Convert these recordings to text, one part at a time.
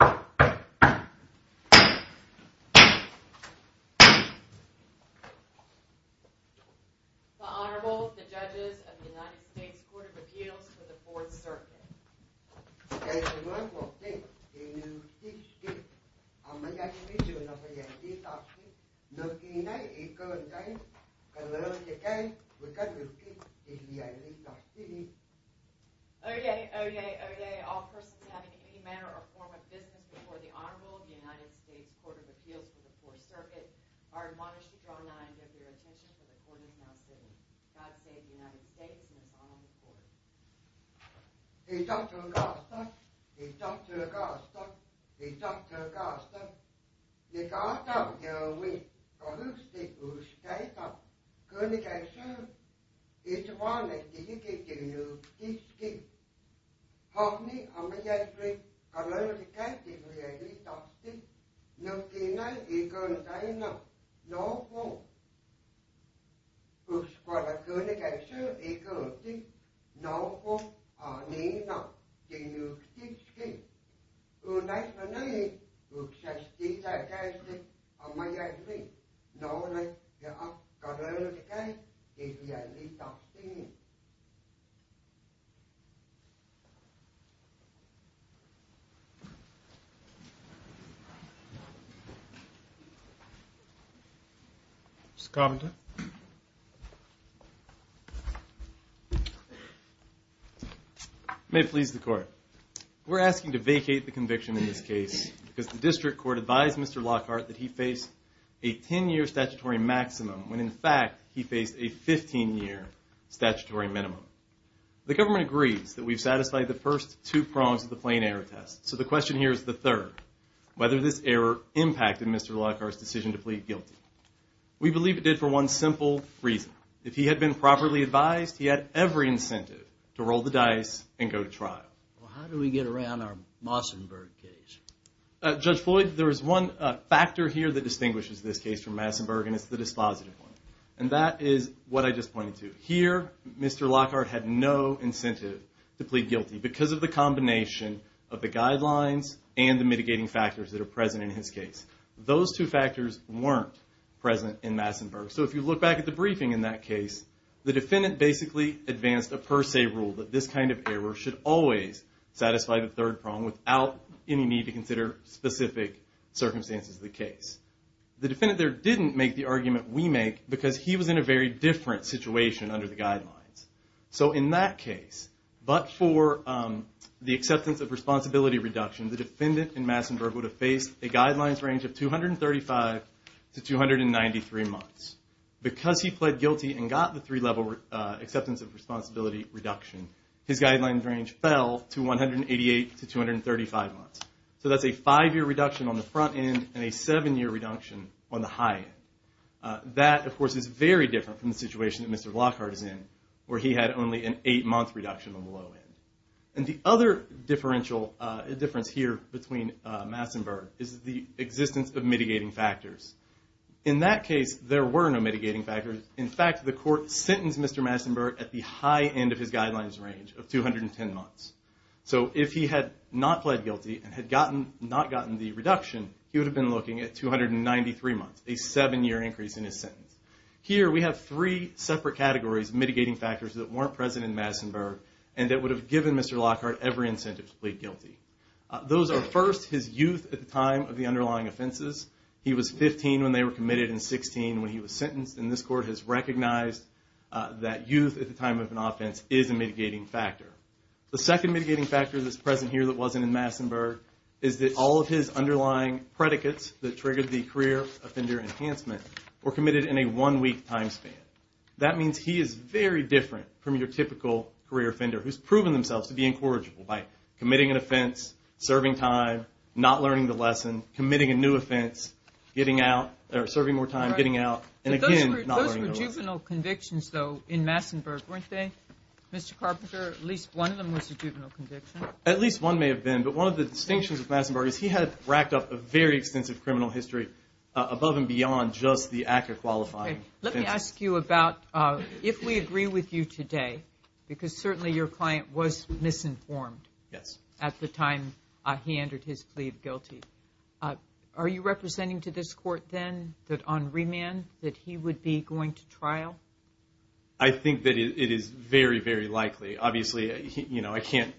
The Honorable, the Judges of the United States Court of Appeals for the Fourth Circuit. The Honorable, the Judges of the United States Court of Appeals for the Fourth Circuit. Oye, oye, oye, all persons having any manner or form of business before the Honorable, the United States Court of Appeals for the Fourth Circuit, are admonished to draw nigh and give their attention to the court of counsel. God save the United States and its Honorable Court. Oye, oye, oye, all persons having any manner or form of business before the Honorable, the Judges of the United States Court of Appeals for the Fourth Circuit, are admonished to draw nigh and give their attention to the court of counsel. Oye, oye, oye, all persons having any manner or form of business before the Honorable, the Judges of the United States Court of Appeals for the Fourth Circuit, are admonished to draw nigh and give their attention to the court of counsel. Mr. Compton. May it please the Court. We're asking to vacate the conviction in this case because the district court advised Mr. Lockhart that he faced a 10-year statutory maximum when, in fact, he faced a 15-year statutory minimum. The government agrees that we've satisfied the first two prongs of the plain error test, so the question here is the third, whether this error impacted Mr. Lockhart's decision to plead guilty. We believe it did for one simple reason. If he had been properly advised, he had every incentive to roll the dice and go to trial. Well, how do we get around our Mossenberg case? Judge Floyd, there is one factor here that distinguishes this case from Mossenberg, and it's the dispositive one. And that is what I just pointed to. Here, Mr. Lockhart had no incentive to plead guilty because of the combination of the guidelines and the mitigating factors that are present in his case. Those two factors weren't present in Mossenberg. So if you look back at the briefing in that case, the defendant basically advanced a per se rule that this kind of error should always satisfy the third prong without any need to consider specific circumstances of the case. The defendant there didn't make the argument we make because he was in a very different situation under the guidelines. So in that case, but for the acceptance of responsibility reduction, the defendant in Mossenberg would have faced a guidelines range of 235 to 293 months. Because he pled guilty and got the three-level acceptance of responsibility reduction, his guidelines range fell to 188 to 235 months. So that's a five-year reduction on the front end and a seven-year reduction on the high end. That, of course, is very different from the situation that Mr. Lockhart is in where he had only an eight-month reduction on the low end. And the other difference here between Mossenberg is the existence of mitigating factors. In that case, there were no mitigating factors. In fact, the court sentenced Mr. Mossenberg at the high end of his guidelines range of 210 months. So if he had not pled guilty and had not gotten the reduction, he would have been looking at 293 months, a seven-year increase in his sentence. Here, we have three separate categories of mitigating factors that weren't present in Mossenberg and that would have given Mr. Lockhart every incentive to plead guilty. Those are, first, his youth at the time of the underlying offenses. He was 15 when they were committed and 16 when he was sentenced. And this court has recognized that youth at the time of an offense is a mitigating factor. The second mitigating factor that's present here that wasn't in Mossenberg is that all of his underlying predicates that triggered the career offender enhancement were committed in a one-week time span. That means he is very different from your typical career offender who's proven themselves to be incorrigible by committing an offense, serving time, not learning the lesson, committing a new offense, serving more time, getting out, and again, not learning the lesson. There were juvenile convictions, though, in Mossenberg, weren't there, Mr. Carpenter? At least one of them was a juvenile conviction. At least one may have been, but one of the distinctions of Mossenberg is he had racked up a very extensive criminal history above and beyond just the act of qualifying. Let me ask you about if we agree with you today, because certainly your client was misinformed at the time he entered his plea of guilty, are you representing to this court then that on remand that he would be going to trial? I think that it is very, very likely. Obviously, I can't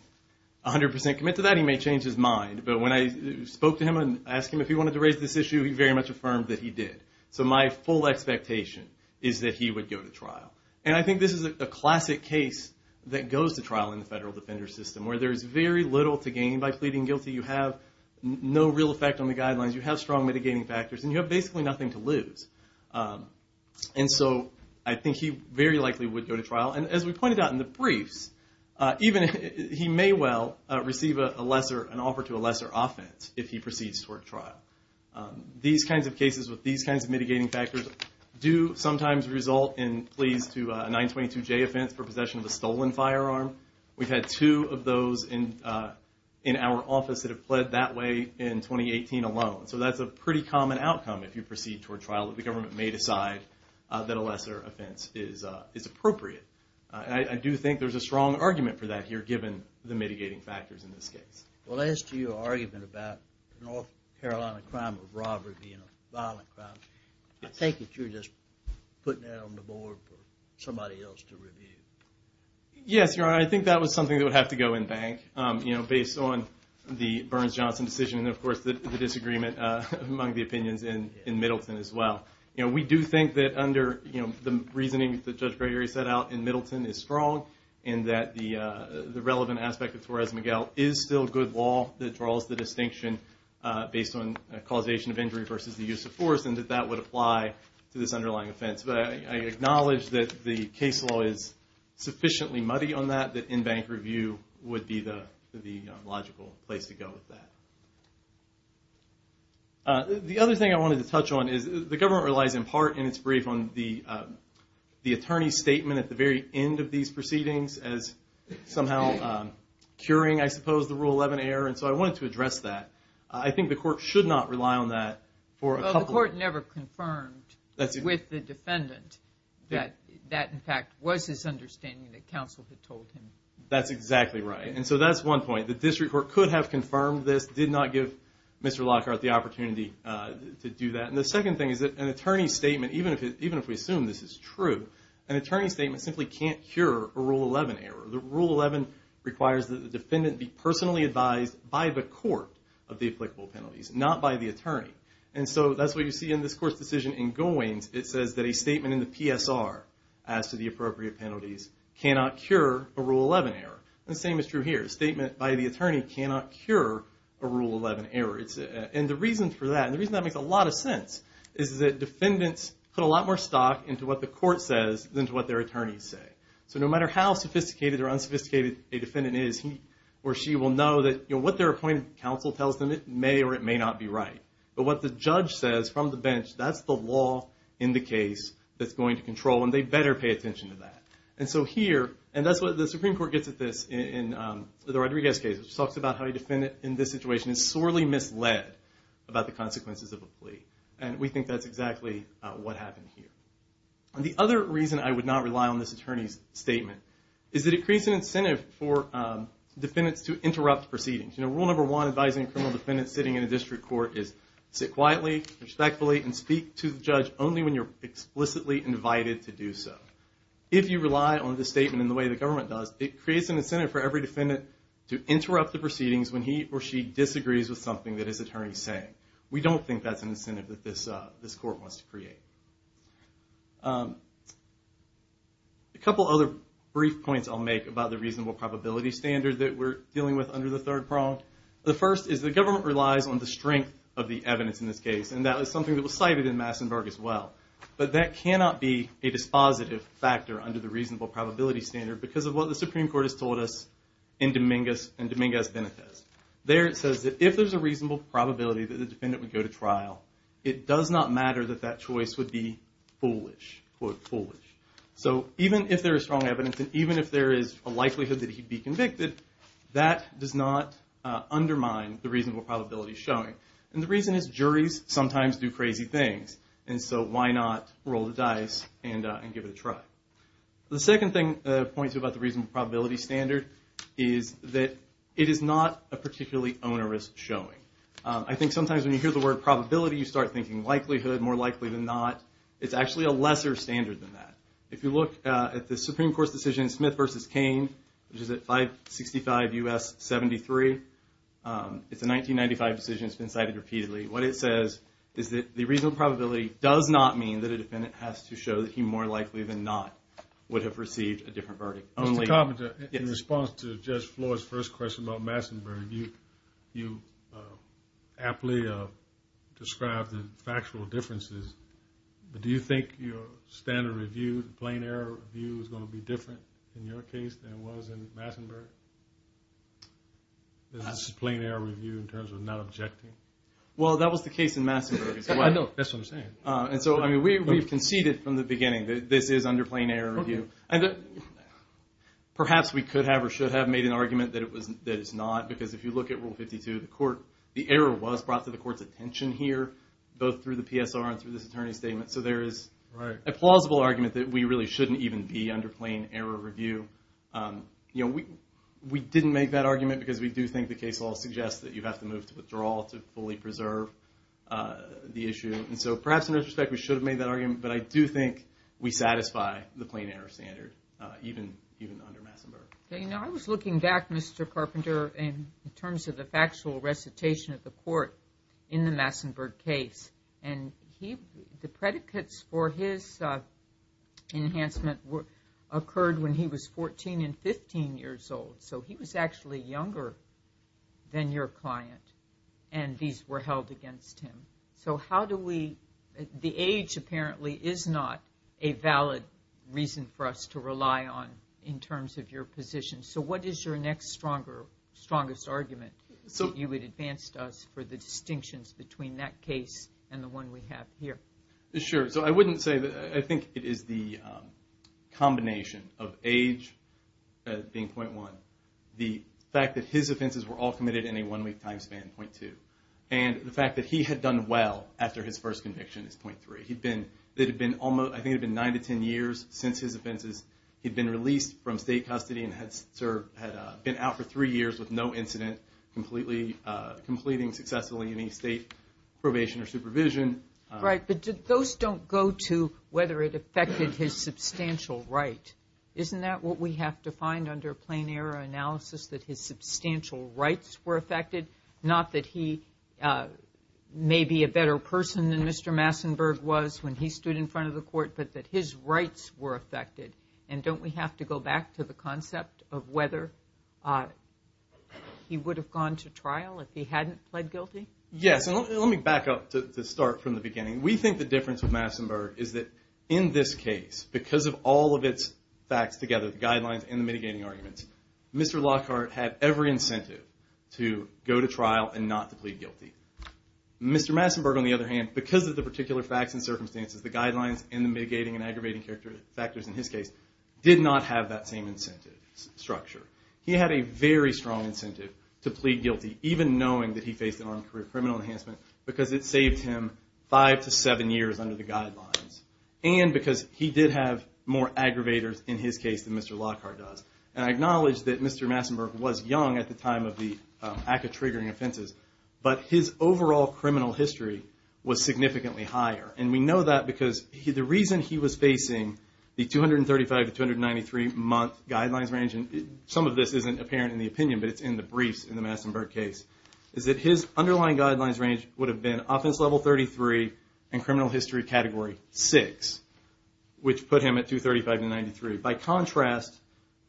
100% commit to that. He may change his mind. But when I spoke to him and asked him if he wanted to raise this issue, he very much affirmed that he did. So my full expectation is that he would go to trial. And I think this is a classic case that goes to trial in the federal defender system, where there is very little to gain by pleading guilty. You have no real effect on the guidelines. You have strong mitigating factors, and you have basically nothing to lose. And so I think he very likely would go to trial. And as we pointed out in the briefs, he may well receive an offer to a lesser offense if he proceeds toward trial. These kinds of cases with these kinds of mitigating factors do sometimes result in pleas to a 922J offense for possession of a stolen firearm. We've had two of those in our office that have pled that way in 2018 alone. So that's a pretty common outcome if you proceed toward trial, that the government may decide that a lesser offense is appropriate. And I do think there's a strong argument for that here, given the mitigating factors in this case. Well, as to your argument about North Carolina crime of robbery being a violent crime, I think that you're just putting that on the board for somebody else to review. Yes, Your Honor, I think that was something that would have to go in bank, based on the Burns-Johnson decision and, of course, the disagreement among the opinions in Middleton as well. We do think that under the reasoning that Judge Gregory set out in Middleton is strong, and that the relevant aspect of Torres Miguel is still good law that draws the distinction based on causation of injury versus the use of force, and that that would apply to this underlying offense. But I acknowledge that the case law is sufficiently muddy on that, that in-bank review would be the logical place to go with that. The other thing I wanted to touch on is the government relies in part in its brief on the attorney's statement at the very end of these proceedings as somehow curing, I suppose, the Rule 11 error. And so I wanted to address that. I think the Court should not rely on that for a couple of reasons. The Court never confirmed with the defendant that that, in fact, was his understanding that counsel had told him. That's exactly right. And so that's one point, that this report could have confirmed this, did not give Mr. Lockhart the opportunity to do that. And the second thing is that an attorney's statement, even if we assume this is true, an attorney's statement simply can't cure a Rule 11 error. The Rule 11 requires that the defendant be personally advised by the court of the applicable penalties, not by the attorney. And so that's what you see in this Court's decision in Goins. It says that a statement in the PSR as to the appropriate penalties cannot cure a Rule 11 error. The same is true here. A statement by the attorney cannot cure a Rule 11 error. And the reason for that, and the reason that makes a lot of sense, is that defendants put a lot more stock into what the court says than to what their attorneys say. So no matter how sophisticated or unsophisticated a defendant is, he or she will know that what their appointed counsel tells them, it may or it may not be right. But what the judge says from the bench, that's the law in the case that's going to control, and they better pay attention to that. And so here, and that's what the Supreme Court gets at this in the Rodriguez case, which talks about how a defendant in this situation is sorely misled about the consequences of a plea. And we think that's exactly what happened here. The other reason I would not rely on this attorney's statement is that it creates an incentive for defendants to interrupt proceedings. Rule number one advising a criminal defendant sitting in a district court is sit quietly, respectfully, and speak to the judge only when you're explicitly invited to do so. If you rely on this statement in the way the government does, it creates an incentive for every defendant to interrupt the proceedings We don't think that's an incentive that this court wants to create. A couple other brief points I'll make about the reasonable probability standard that we're dealing with under the third prong. The first is the government relies on the strength of the evidence in this case, and that was something that was cited in Massenburg as well. But that cannot be a dispositive factor under the reasonable probability standard because of what the Supreme Court has told us in Dominguez-Benitez. There it says that if there's a reasonable probability that the defendant would go to trial, it does not matter that that choice would be foolish, quote foolish. So even if there is strong evidence, and even if there is a likelihood that he'd be convicted, that does not undermine the reasonable probability showing. And the reason is juries sometimes do crazy things, and so why not roll the dice and give it a try. The second thing I'll point to about the reasonable probability standard is that it is not a particularly onerous showing. I think sometimes when you hear the word probability, you start thinking likelihood, more likely than not. It's actually a lesser standard than that. If you look at the Supreme Court's decision, Smith v. Cain, which is at 565 U.S. 73, it's a 1995 decision. It's been cited repeatedly. What it says is that the reasonable probability does not mean that a defendant has to show that he more likely than not would have received a different verdict. Mr. Carpenter, in response to Judge Floyd's first question about Massenburg, you aptly described the factual differences, but do you think your standard review, plain error review, is going to be different in your case than it was in Massenburg? Is this a plain error review in terms of not objecting? Well, that was the case in Massenburg. That's what I'm saying. And so, I mean, we've conceded from the beginning that this is under plain error review. And perhaps we could have or should have made an argument that it's not, because if you look at Rule 52, the error was brought to the court's attention here, both through the PSR and through this attorney's statement. So there is a plausible argument that we really shouldn't even be under plain error review. You know, we didn't make that argument because we do think the case law suggests that you have to move to withdrawal to fully preserve the issue. And so perhaps in retrospect we should have made that argument, but I do think we satisfy the plain error standard, even under Massenburg. You know, I was looking back, Mr. Carpenter, in terms of the factual recitation of the court in the Massenburg case, and the predicates for his enhancement occurred when he was 14 and 15 years old. So he was actually younger than your client, and these were held against him. So how do we – the age apparently is not a valid reason for us to rely on in terms of your position. So what is your next strongest argument that you would advance to us for the distinctions between that case and the one we have here? Sure. So I wouldn't say – I think it is the combination of age being 0.1, the fact that his offenses were all committed in a one-week time span, 0.2, and the fact that he had done well after his first conviction is 0.3. It had been almost – I think it had been 9 to 10 years since his offenses. He had been released from state custody and had been out for three years with no incident, completing successfully any state probation or supervision. Right, but those don't go to whether it affected his substantial right. Isn't that what we have to find under plain error analysis, that his substantial rights were affected, not that he may be a better person than Mr. Massenburg was when he stood in front of the court, but that his rights were affected? And don't we have to go back to the concept of whether he would have gone to trial if he hadn't pled guilty? Yes, and let me back up to start from the beginning. We think the difference with Massenburg is that in this case, because of all of its facts together, the guidelines and the mitigating arguments, Mr. Lockhart had every incentive to go to trial and not to plead guilty. Mr. Massenburg, on the other hand, because of the particular facts and circumstances, the guidelines and the mitigating and aggravating factors in his case, did not have that same incentive structure. He had a very strong incentive to plead guilty, even knowing that he faced an armed career criminal enhancement because it saved him 5 to 7 years under the guidelines and because he did have more aggravators in his case than Mr. Lockhart does. And I acknowledge that Mr. Massenburg was young at the time of the act of triggering offenses, but his overall criminal history was significantly higher. And we know that because the reason he was facing the 235 to 293 month guidelines range, and some of this isn't apparent in the opinion, but it's in the briefs in the Massenburg case, is that his underlying guidelines range would have been offense level 33 and criminal history category 6, which put him at 235 to 93. By contrast,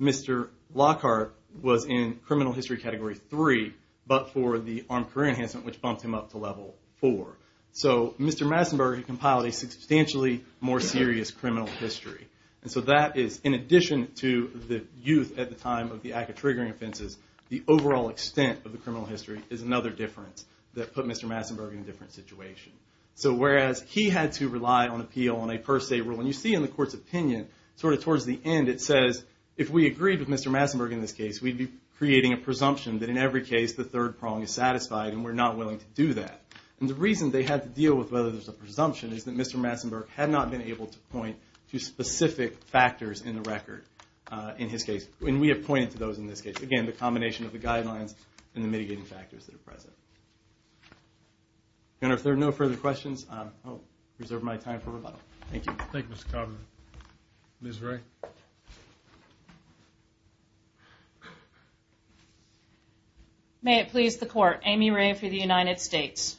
Mr. Lockhart was in criminal history category 3, but for the armed career enhancement, which bumped him up to level 4. So Mr. Massenburg compiled a substantially more serious criminal history. And so that is, in addition to the youth at the time of the act of triggering offenses, the overall extent of the criminal history is another difference that put Mr. Massenburg in a different situation. So whereas he had to rely on appeal and a per se rule, and you see in the court's opinion sort of towards the end, it says, if we agreed with Mr. Massenburg in this case, we'd be creating a presumption that in every case the third prong is satisfied and we're not willing to do that. And the reason they had to deal with whether there's a presumption is that Mr. Massenburg had not been able to point to specific factors in the record in his case. And we have pointed to those in this case. Again, the combination of the guidelines and the mitigating factors that are present. Thank you. Thank you, Mr. Coburn. Ms. Ray. May it please the Court, Amy Ray for the United States.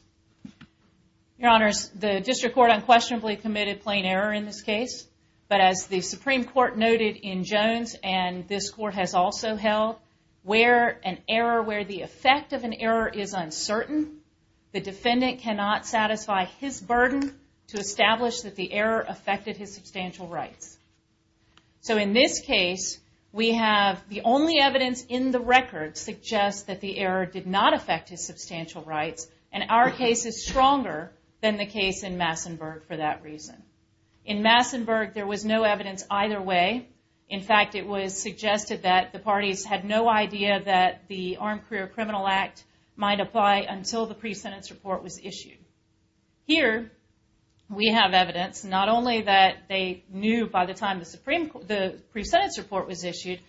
Your Honors, the District Court unquestionably committed plain error in this case. But as the Supreme Court noted in Jones, and this Court has also held, where an error, where the effect of an error is uncertain, the defendant cannot satisfy his burden to establish that the error affected his substantial rights. So in this case, we have the only evidence in the record suggests that the error did not affect his substantial rights, and our case is stronger than the case in Massenburg for that reason. In Massenburg, there was no evidence either way. In fact, it was suggested that the parties had no idea that the Armed Career Criminal Act might apply until the pre-sentence report was issued. Here, we have evidence not only that they knew by the time the pre-sentence report was issued,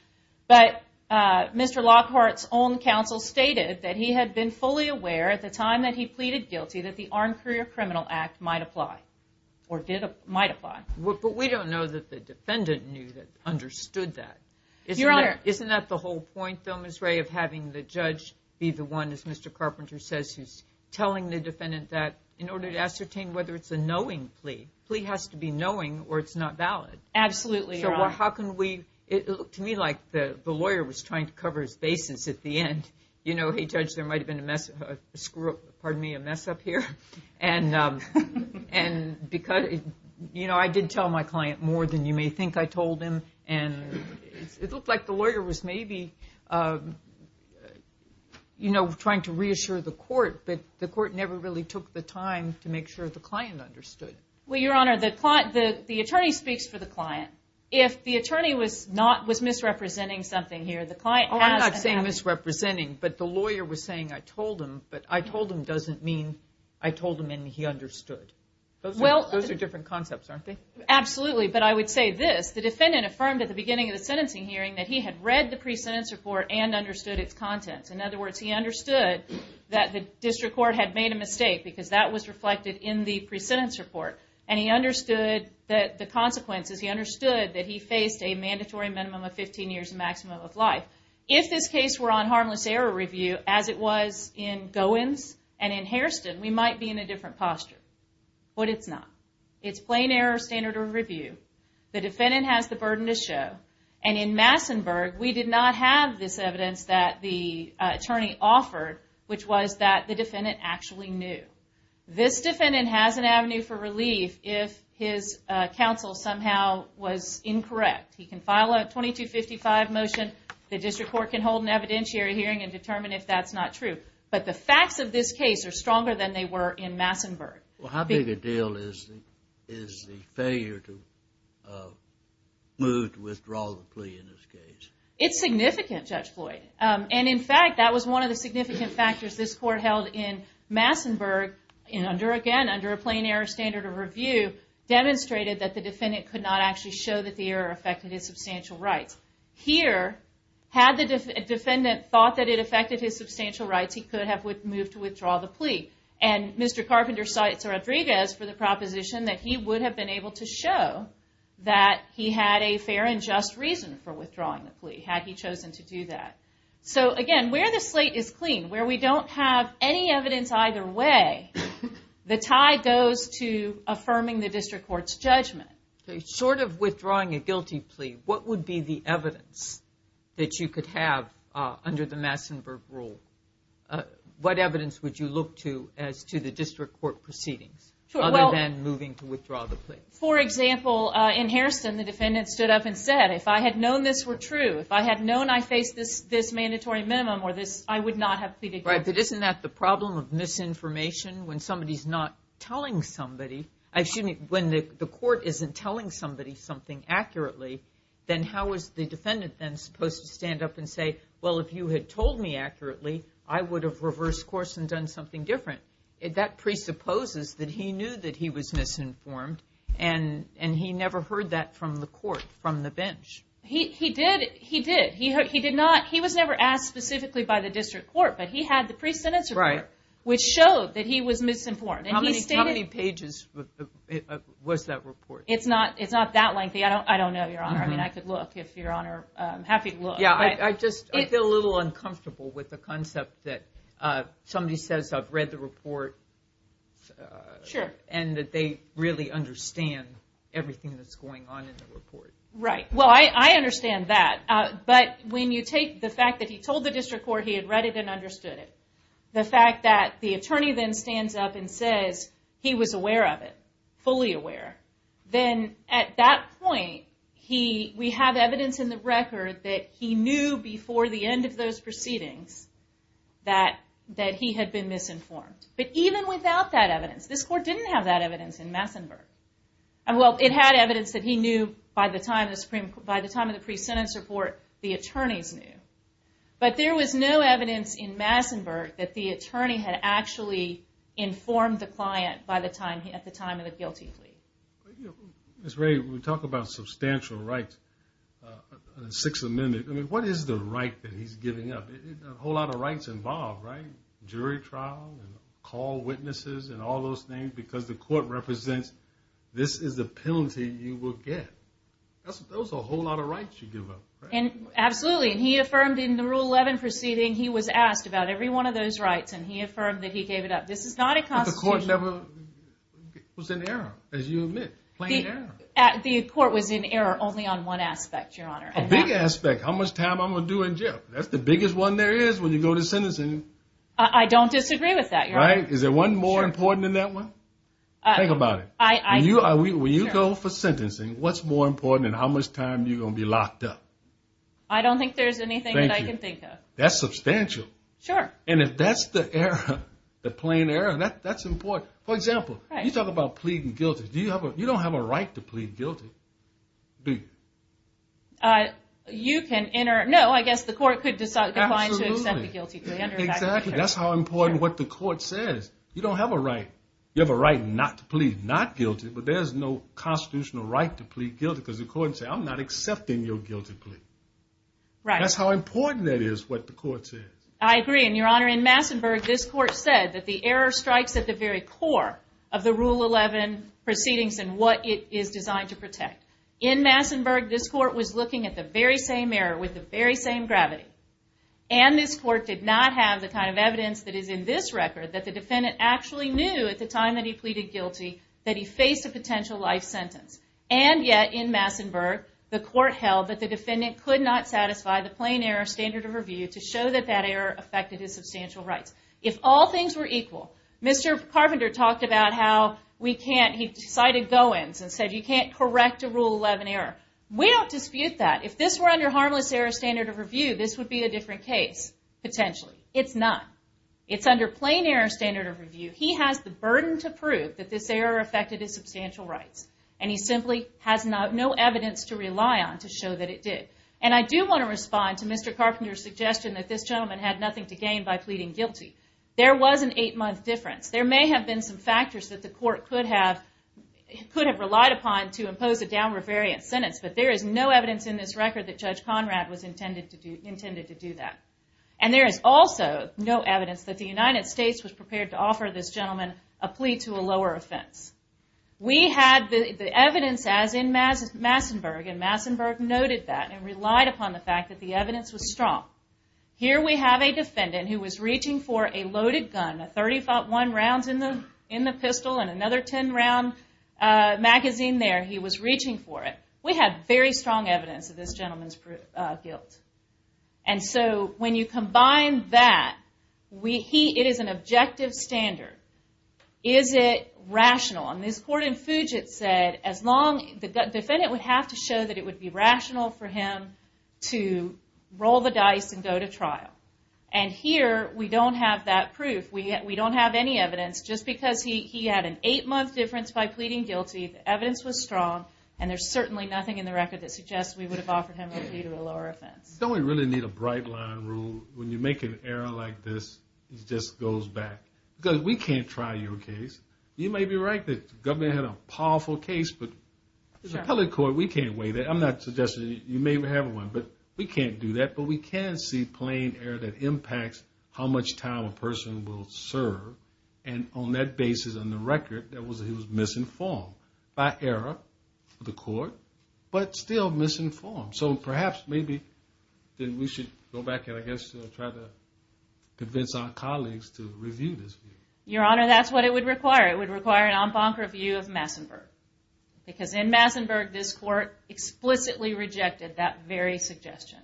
but Mr. Lockhart's own counsel stated that he had been fully aware at the time that he pleaded guilty that the Armed Career Criminal Act might apply. But we don't know that the defendant knew, understood that. Isn't that the whole point, though, Ms. Ray, of having the judge be the one, as Mr. Carpenter says, who's telling the defendant that in order to ascertain whether it's a knowing plea, plea has to be knowing or it's not valid. Absolutely, Your Honor. So how can we – it looked to me like the lawyer was trying to cover his bases at the end. You know, hey, Judge, there might have been a mess – pardon me – a mess up here. And because – you know, I did tell my client more than you may think I told him, and it looked like the lawyer was maybe, you know, trying to reassure the court, but the court never really took the time to make sure the client understood. Well, Your Honor, the attorney speaks for the client. If the attorney was not – was misrepresenting something here, the client has to – Oh, I'm not saying misrepresenting, but the lawyer was saying I told him, but I told him doesn't mean I told him and he understood. Those are different concepts, aren't they? Absolutely, but I would say this. The defendant affirmed at the beginning of the sentencing hearing that he had read the pre-sentence report and understood its contents. In other words, he understood that the district court had made a mistake because that was reflected in the pre-sentence report, and he understood the consequences. He understood that he faced a mandatory minimum of 15 years and maximum of life. If this case were on harmless error review as it was in Goins and in Hairston, we might be in a different posture, but it's not. It's plain error standard of review. The defendant has the burden to show, and in Massenburg, we did not have this evidence that the attorney offered, which was that the defendant actually knew. This defendant has an avenue for relief if his counsel somehow was incorrect. He can file a 2255 motion. The district court can hold an evidentiary hearing and determine if that's not true. But the facts of this case are stronger than they were in Massenburg. Well, how big a deal is the failure to move to withdraw the plea in this case? It's significant, Judge Floyd. And, in fact, that was one of the significant factors this court held in Massenburg, again, under a plain error standard of review, demonstrated that the defendant could not actually show that the error affected his substantial rights. Here, had the defendant thought that it affected his substantial rights, he could have moved to withdraw the plea. And Mr. Carpenter cites Rodriguez for the proposition that he would have been able to show that he had a fair and just reason for withdrawing the plea, had he chosen to do that. So, again, where the slate is clean, where we don't have any evidence either way, the tie goes to affirming the district court's judgment. Short of withdrawing a guilty plea, what would be the evidence that you could have under the Massenburg rule? What evidence would you look to as to the district court proceedings, other than moving to withdraw the plea? For example, in Hairston, the defendant stood up and said, if I had known this were true, if I had known I faced this mandatory minimum, I would not have pleaded guilty. But isn't that the problem of misinformation? When somebody's not telling somebody, when the court isn't telling somebody something accurately, then how is the defendant then supposed to stand up and say, well, if you had told me accurately, I would have reversed course and done something different. That presupposes that he knew that he was misinformed, and he never heard that from the court, from the bench. He did. He did. He did not. He was never asked specifically by the district court, but he had the pre-sentence report, which showed that he was misinformed. How many pages was that report? It's not that lengthy. I don't know, Your Honor. I mean, I could look, if Your Honor is happy to look. Yeah, I just feel a little uncomfortable with the concept that somebody says I've read the report and that they really understand everything that's going on in the report. Right. Well, I understand that. But when you take the fact that he told the district court he had read it and understood it, the fact that the attorney then stands up and says he was aware of it, fully aware, then at that point we have evidence in the record that he knew before the end of those proceedings that he had been misinformed. But even without that evidence, this court didn't have that evidence in Massenburg. Well, it had evidence that he knew by the time of the pre-sentence report, the attorneys knew. But there was no evidence in Massenburg that the attorney had actually informed the client at the time of the guilty plea. Ms. Ray, we talk about substantial rights, Sixth Amendment. I mean, what is the right that he's giving up? A whole lot of rights involved, right? Jury trial and call witnesses and all those things because the court represents this is the penalty you will get. Those are a whole lot of rights you give up. Absolutely, and he affirmed in the Rule 11 proceeding he was asked about every one of those rights, and he affirmed that he gave it up. This is not a constitution. But the court never was in error, as you admit, plain error. The court was in error only on one aspect, Your Honor. A big aspect, how much time I'm going to do in jail. That's the biggest one there is when you go to sentencing. I don't disagree with that, Your Honor. Is there one more important than that one? Think about it. When you go for sentencing, what's more important than how much time you're going to be locked up? I don't think there's anything that I can think of. That's substantial. Sure. And if that's the error, the plain error, that's important. For example, you talk about pleading guilty. You don't have a right to plead guilty. Do you? You can enter. No, I guess the court could decline to accept the guilty plea. Exactly. That's how important what the court says. You don't have a right. You have a right not to plead not guilty, but there's no constitutional right to plead guilty because the court said I'm not accepting your guilty plea. That's how important that is what the court says. I agree, and, Your Honor, in Massenburg, this court said that the error strikes at the very core of the Rule 11 proceedings and what it is designed to protect. In Massenburg, this court was looking at the very same error with the very same gravity, and this court did not have the kind of evidence that is in this record that the defendant actually knew at the time that he pleaded guilty that he faced a potential life sentence. And yet, in Massenburg, the court held that the defendant could not satisfy the plain error standard of review to show that that error affected his substantial rights. If all things were equal, Mr. Carpenter talked about how we can't... He cited Goins and said you can't correct a Rule 11 error. We don't dispute that. If this were under harmless error standard of review, this would be a different case, potentially. It's not. It's under plain error standard of review. He has the burden to prove that this error affected his substantial rights, and he simply has no evidence to rely on to show that it did. And I do want to respond to Mr. Carpenter's suggestion that this gentleman had nothing to gain by pleading guilty. There was an eight-month difference. There may have been some factors that the court could have... could have relied upon to impose a downward variant sentence, but there is no evidence in this record that Judge Conrad was intended to do that. And there is also no evidence that the United States was prepared to offer this gentleman a plea to a lower offense. We had the evidence as in Massenburg, and Massenburg noted that and relied upon the fact that the evidence was strong. Here we have a defendant who was reaching for a loaded gun, a .35-1 rounds in the pistol, and another 10-round magazine there. He was reaching for it. We had very strong evidence of this gentleman's guilt. And so when you combine that, it is an objective standard. Is it rational? And this court in Fuget said that the defendant would have to show that it would be rational for him to roll the dice and go to trial. And here we don't have that proof. We don't have any evidence. Just because he had an eight-month difference by pleading guilty, the evidence was strong, and there's certainly nothing in the record that suggests we would have offered him a plea to a lower offense. Don't we really need a bright-line rule? When you make an error like this, it just goes back. Because we can't try your case. You may be right that the government had a powerful case, but the appellate court, we can't weigh that. I'm not suggesting you may have one, but we can't do that. But we can see plain error that impacts how much time a person will serve. And on that basis, on the record, he was misinformed by error of the court, but still misinformed. So perhaps maybe we should go back and I guess try to convince our colleagues to review this. Your Honor, that's what it would require. It would require an en banc review of Massenburg. Because in Massenburg, this court explicitly rejected that very suggestion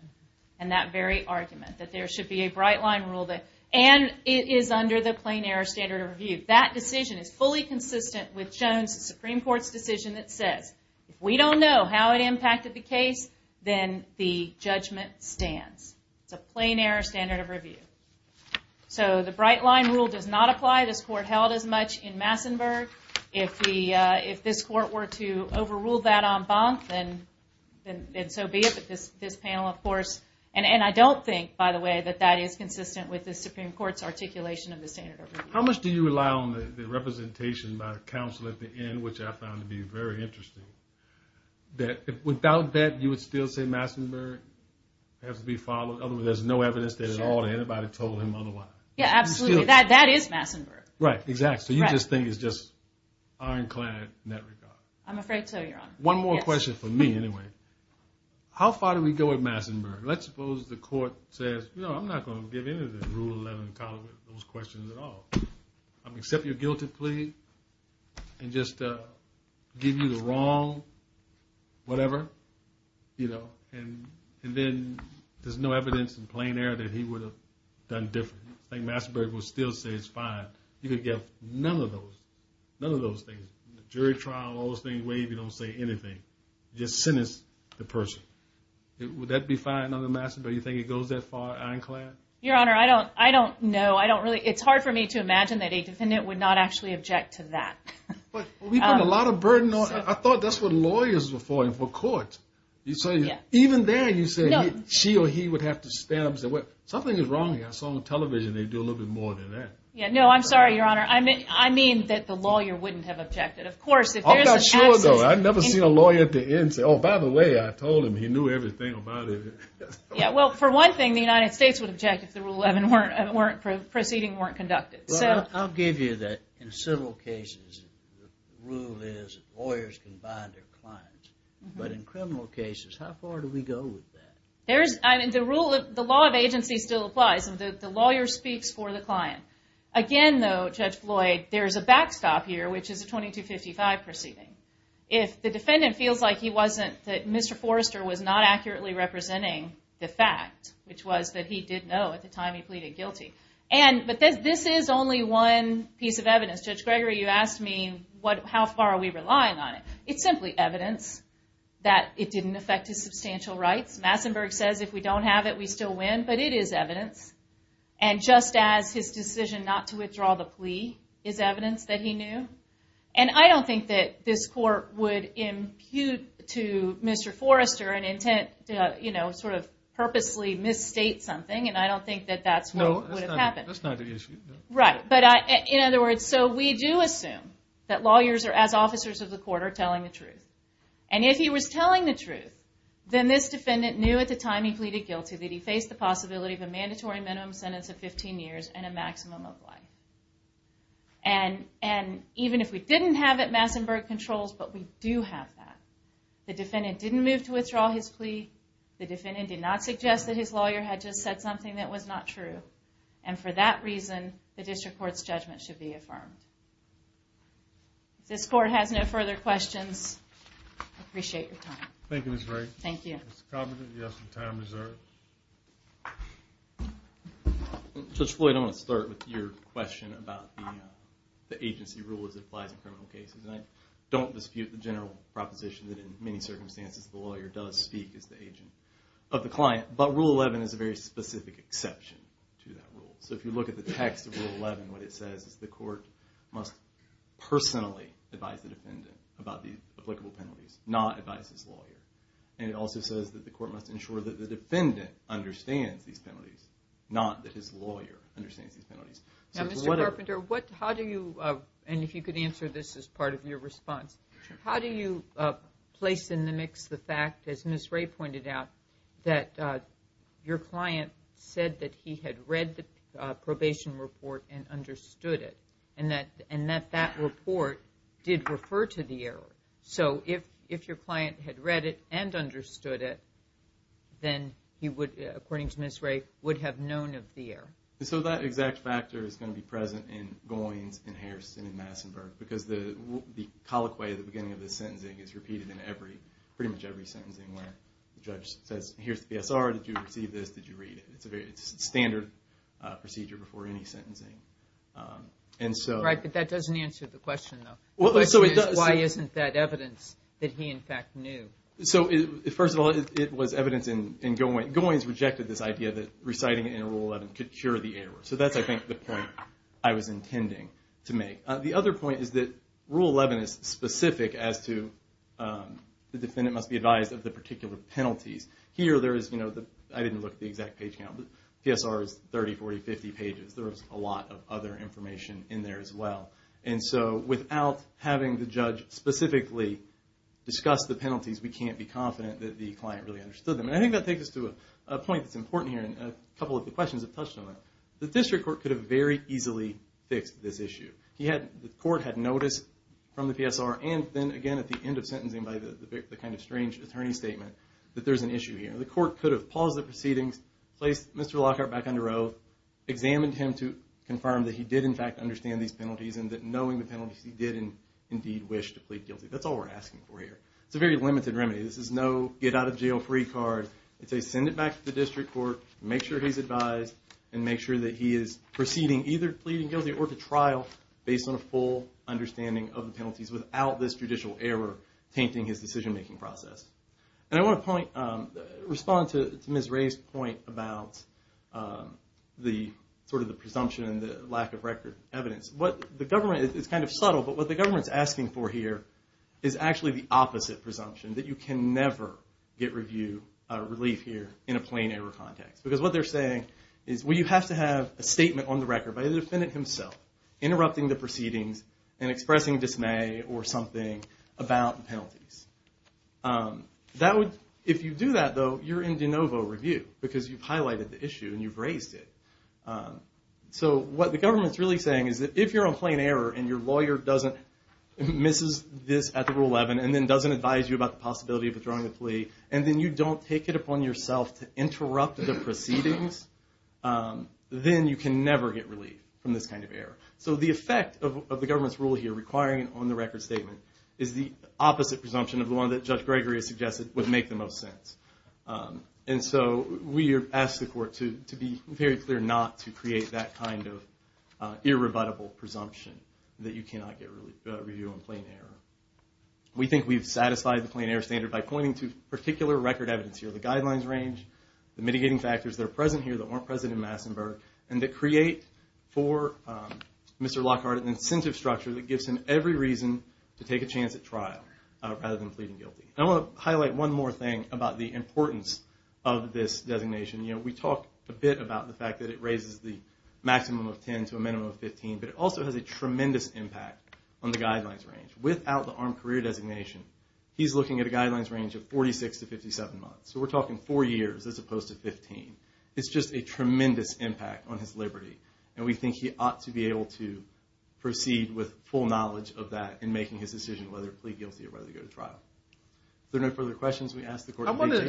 and that very argument that there should be a bright-line rule and it is under the plain error standard of review. That decision is fully consistent with Jones' Supreme Court's decision that says, if we don't know how it impacted the case, then the judgment stands. It's a plain error standard of review. So the bright-line rule does not apply. This court held as much in Massenburg. If this court were to overrule that en banc, then so be it. But this panel, of course... And I don't think, by the way, that that is consistent with the Supreme Court's articulation of the standard of review. How much do you rely on the representation by counsel at the end, which I found to be very interesting, that without that, you would still say Massenburg has to be followed? In other words, there's no evidence that at all anybody told him otherwise. Yeah, absolutely. That is Massenburg. Right, exactly. So you just think it's just ironclad net regard. I'm afraid so, Your Honor. One more question for me, anyway. How far do we go at Massenburg? Let's suppose the court says, I'm not going to give any of the Rule 11 those questions at all. I'll accept your guilty plea and just give you the wrong... whatever. And then, there's no evidence in plain air that he would have done differently. I think Massenburg would still say it's fine. You could give none of those. None of those things. The jury trial, all those things, where you don't say anything. Just sentence the person. Would that be fine under Massenburg? You think it goes that far, ironclad? Your Honor, I don't know. It's hard for me to imagine that a defendant would not actually object to that. We put a lot of burden on... I thought that's what lawyers were for and for courts. Even there, you say she or he would have to stand up and say, something is wrong here. I saw on television they do a little bit more than that. No, I'm sorry, Your Honor. I mean that the lawyer wouldn't have objected. I'm not sure, though. I've never seen a lawyer at the end say, oh, by the way, I told him he knew everything about it. Well, for one thing, the United States would object if the Rule 11 proceedings weren't conducted. I'll give you that in several cases the rule is lawyers can bind their clients. But in criminal cases, how far do we go with that? The law of agency still applies. The lawyer speaks for the client. Again, though, Judge Floyd, there's a backstop here, which is a 2255 proceeding. If the defendant feels like he wasn't... that Mr. Forrester was not accurately representing the fact, which was that he did know at the time he pleaded guilty. But this is only one piece of evidence. Judge Gregory, you asked me, how far are we relying on it? It's simply evidence that it didn't affect his substantial rights. Massenburg says if we don't have it, we still win, but it is evidence. And just as his decision not to withdraw the plea is evidence that he knew. And I don't think that this Court would impute to Mr. Forrester an intent to purposely misstate something, and I don't think that that's what would have happened. In other words, so we do assume that lawyers are, as officers of the Court, are telling the truth. And if he was telling the truth, then this defendant knew at the time he pleaded guilty that he faced the possibility of a mandatory minimum sentence of 15 years and a maximum of life. And even if we didn't have that. The defendant didn't move to withdraw his plea. The defendant did not suggest that his lawyer had just said something that was not true. And for that reason, the District Court's judgment should be affirmed. If this Court has no further questions, I appreciate your time. Thank you, Ms. Wright. Mr. Covenant, you have some time reserved. Judge Floyd, I want to start with your question about the agency rule as it applies in criminal cases. And I don't dispute the general proposition that in many cases the defendant is the agent of the client, but Rule 11 is a very specific exception to that rule. So if you look at the text of Rule 11, what it says is the Court must personally advise the defendant about the applicable penalties, not advise his lawyer. And it also says that the Court must ensure that the defendant understands these penalties, not that his lawyer understands these penalties. Now, Mr. Carpenter, how do you, and if you could answer this as part of your response, how do you place in the mix the fact, as Ms. Ray pointed out, that your client said that he had read the probation report and understood it, and that that report did refer to the error? So if your client had read it and understood it, then he would, according to Ms. Ray, would have known of the error. So that exact factor is going to be present in Goins, in Harrison, in Massenburg, because the colloquy at the beginning of the sentencing is repeated in pretty much every sentencing where the judge says, here's the PSR, did you receive this, did you read it? It's a very standard procedure before any sentencing. Right, but that doesn't answer the question, though. The question is, why isn't that evidence that he, in fact, knew? So, first of all, it was evidence in Goins. Goins rejected this idea that reciting it in Rule 11 could cure the error. So that's, I think, the point I was intending to make. The other point is that Rule 11 is specific as to the defendant must be advised of the particular penalties. Here, there is, I didn't look at the exact page count, PSR is 30, 40, 50 pages. There is a lot of other information in there as well. And so, without having the judge specifically discuss the penalties, we can't be confident that the client really understood them. And I think that takes us to a point that's important here, and a couple of the questions have touched on that. The district court could have very easily fixed this issue. The court had notice from the PSR and then, again, at the end of sentencing by the kind of strange attorney statement, that there's an issue here. The court could have paused the proceedings, placed Mr. Lockhart back under oath, examined him to confirm that he did, in fact, understand these penalties, and that knowing the penalties, he did indeed wish to plead guilty. That's all we're asking for here. It's a very limited remedy. This is no get-out-of-jail-free card. It's a send-it-back-to-the-district court, make sure he's advised, and make sure that he is proceeding either pleading guilty or to trial based on a full understanding of the penalties without this judicial error tainting his decision-making process. And I want to respond to Ms. Ray's point about the presumption and the lack of record evidence. The government, it's kind of subtle, but what the government's asking for here is actually the opposite presumption, that you can never get relief here in a plain error context. Because what they're saying is, well, you have to have a statement on the record by the defendant himself interrupting the proceedings and expressing dismay or something about penalties. If you do that, though, you're in de novo review because you've highlighted the issue and you've raised it. So what the government's really saying is that if you're on plain error and your lawyer doesn't miss this at the Rule 11 and then doesn't advise you about the possibility of withdrawing the plea, and then you don't take it to proceedings, then you can never get relief from this kind of error. So the effect of the government's rule here requiring an on-the-record statement is the opposite presumption of the one that Judge Gregory has suggested would make the most sense. And so we ask the Court to be very clear not to create that kind of irrebuttable presumption that you cannot get review on plain error. We think we've satisfied the plain error standard by pointing to particular record evidence here. The guidelines range, the mitigating factors that are present here that weren't present in Massenburg, and to create for Mr. Lockhart an incentive structure that gives him every reason to take a chance at trial rather than pleading guilty. I want to highlight one more thing about the importance of this designation. We talked a bit about the fact that it raises the maximum of 10 to a minimum of 15, but it also has a tremendous impact on the guidelines range. Without the armed career designation, he's looking at a guidelines range of 46 to 57 months. So we're talking four years as opposed to 15. It's just a tremendous impact on his liberty, and we think he ought to be able to proceed with full knowledge of that in making his decision whether to plead guilty or whether to go to trial. If there are no further questions, we ask the Court to be clear.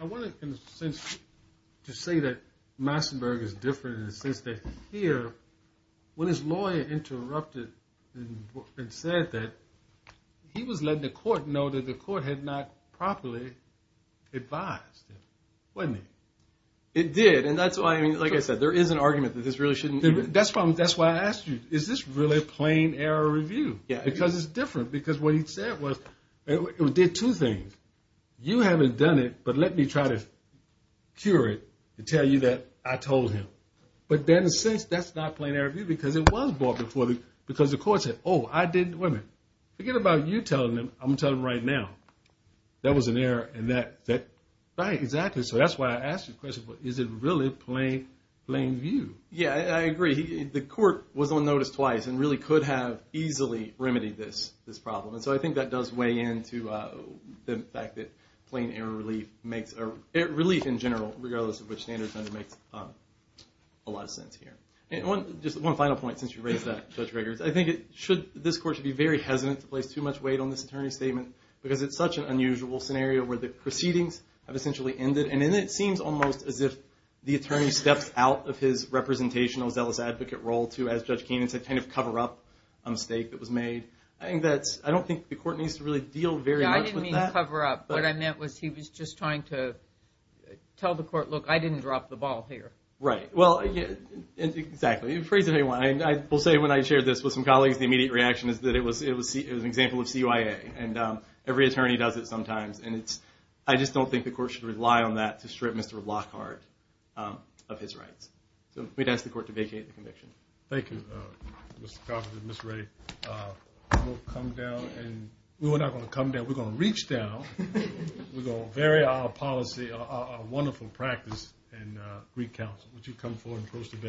I wanted to say that Massenburg is different in the sense that here, when his lawyer interrupted and said that he was letting the Court know that the Court had not properly advised him, wasn't he? It did, and that's why, like I said, there is an argument that this really shouldn't be. That's why I asked you, is this really plain error review? Because it's different, because what he said was, it did two things. You haven't done it, but let me try to cure it and tell you that I told him. But then since that's not plain error review because it was brought before, because the Court said, oh, I did, wait a minute, forget about you telling him, I'm going to tell him right now. That was an error, and that, right, exactly, so that's why I asked you the question, is it really plain view? Yeah, I agree. The Court was on notice twice and really could have easily remedied this problem, and so I think that does weigh in to the fact that plain error relief makes, relief in general, regardless of which standard it's under, makes a lot of sense here. Just one final point, since you raised that, Judge Riggers, I think it should, this Court should be very hesitant to place too much weight on this Attorney's statement, because it's such an unusual scenario where the proceedings have essentially ended, and it seems almost as if the Attorney steps out of his representational, zealous advocate role to, as Judge Keenan said, kind of cover up a mistake that was made. I think that's, I don't think the Court needs to really deal very much with that. Yeah, I didn't mean cover up. What I meant was he was just trying to tell the Court, look, I didn't drop the ball here. Right, well, exactly. I will say when I shared this with some colleagues, the immediate reaction is that it was an example of CYA, and every attorney does it sometimes, and it's, I just don't think the Court should rely on that to strip Mr. Lockhart of his rights. So we'd ask the Court to vacate the conviction. Thank you, Mr. Coffin and Mr. Reddy. We'll come down, and we're not going to come down, we're going to reach down, we're going to vary our policy, our wonderful practice and Greek Council. Would you come forward and pose to the bench?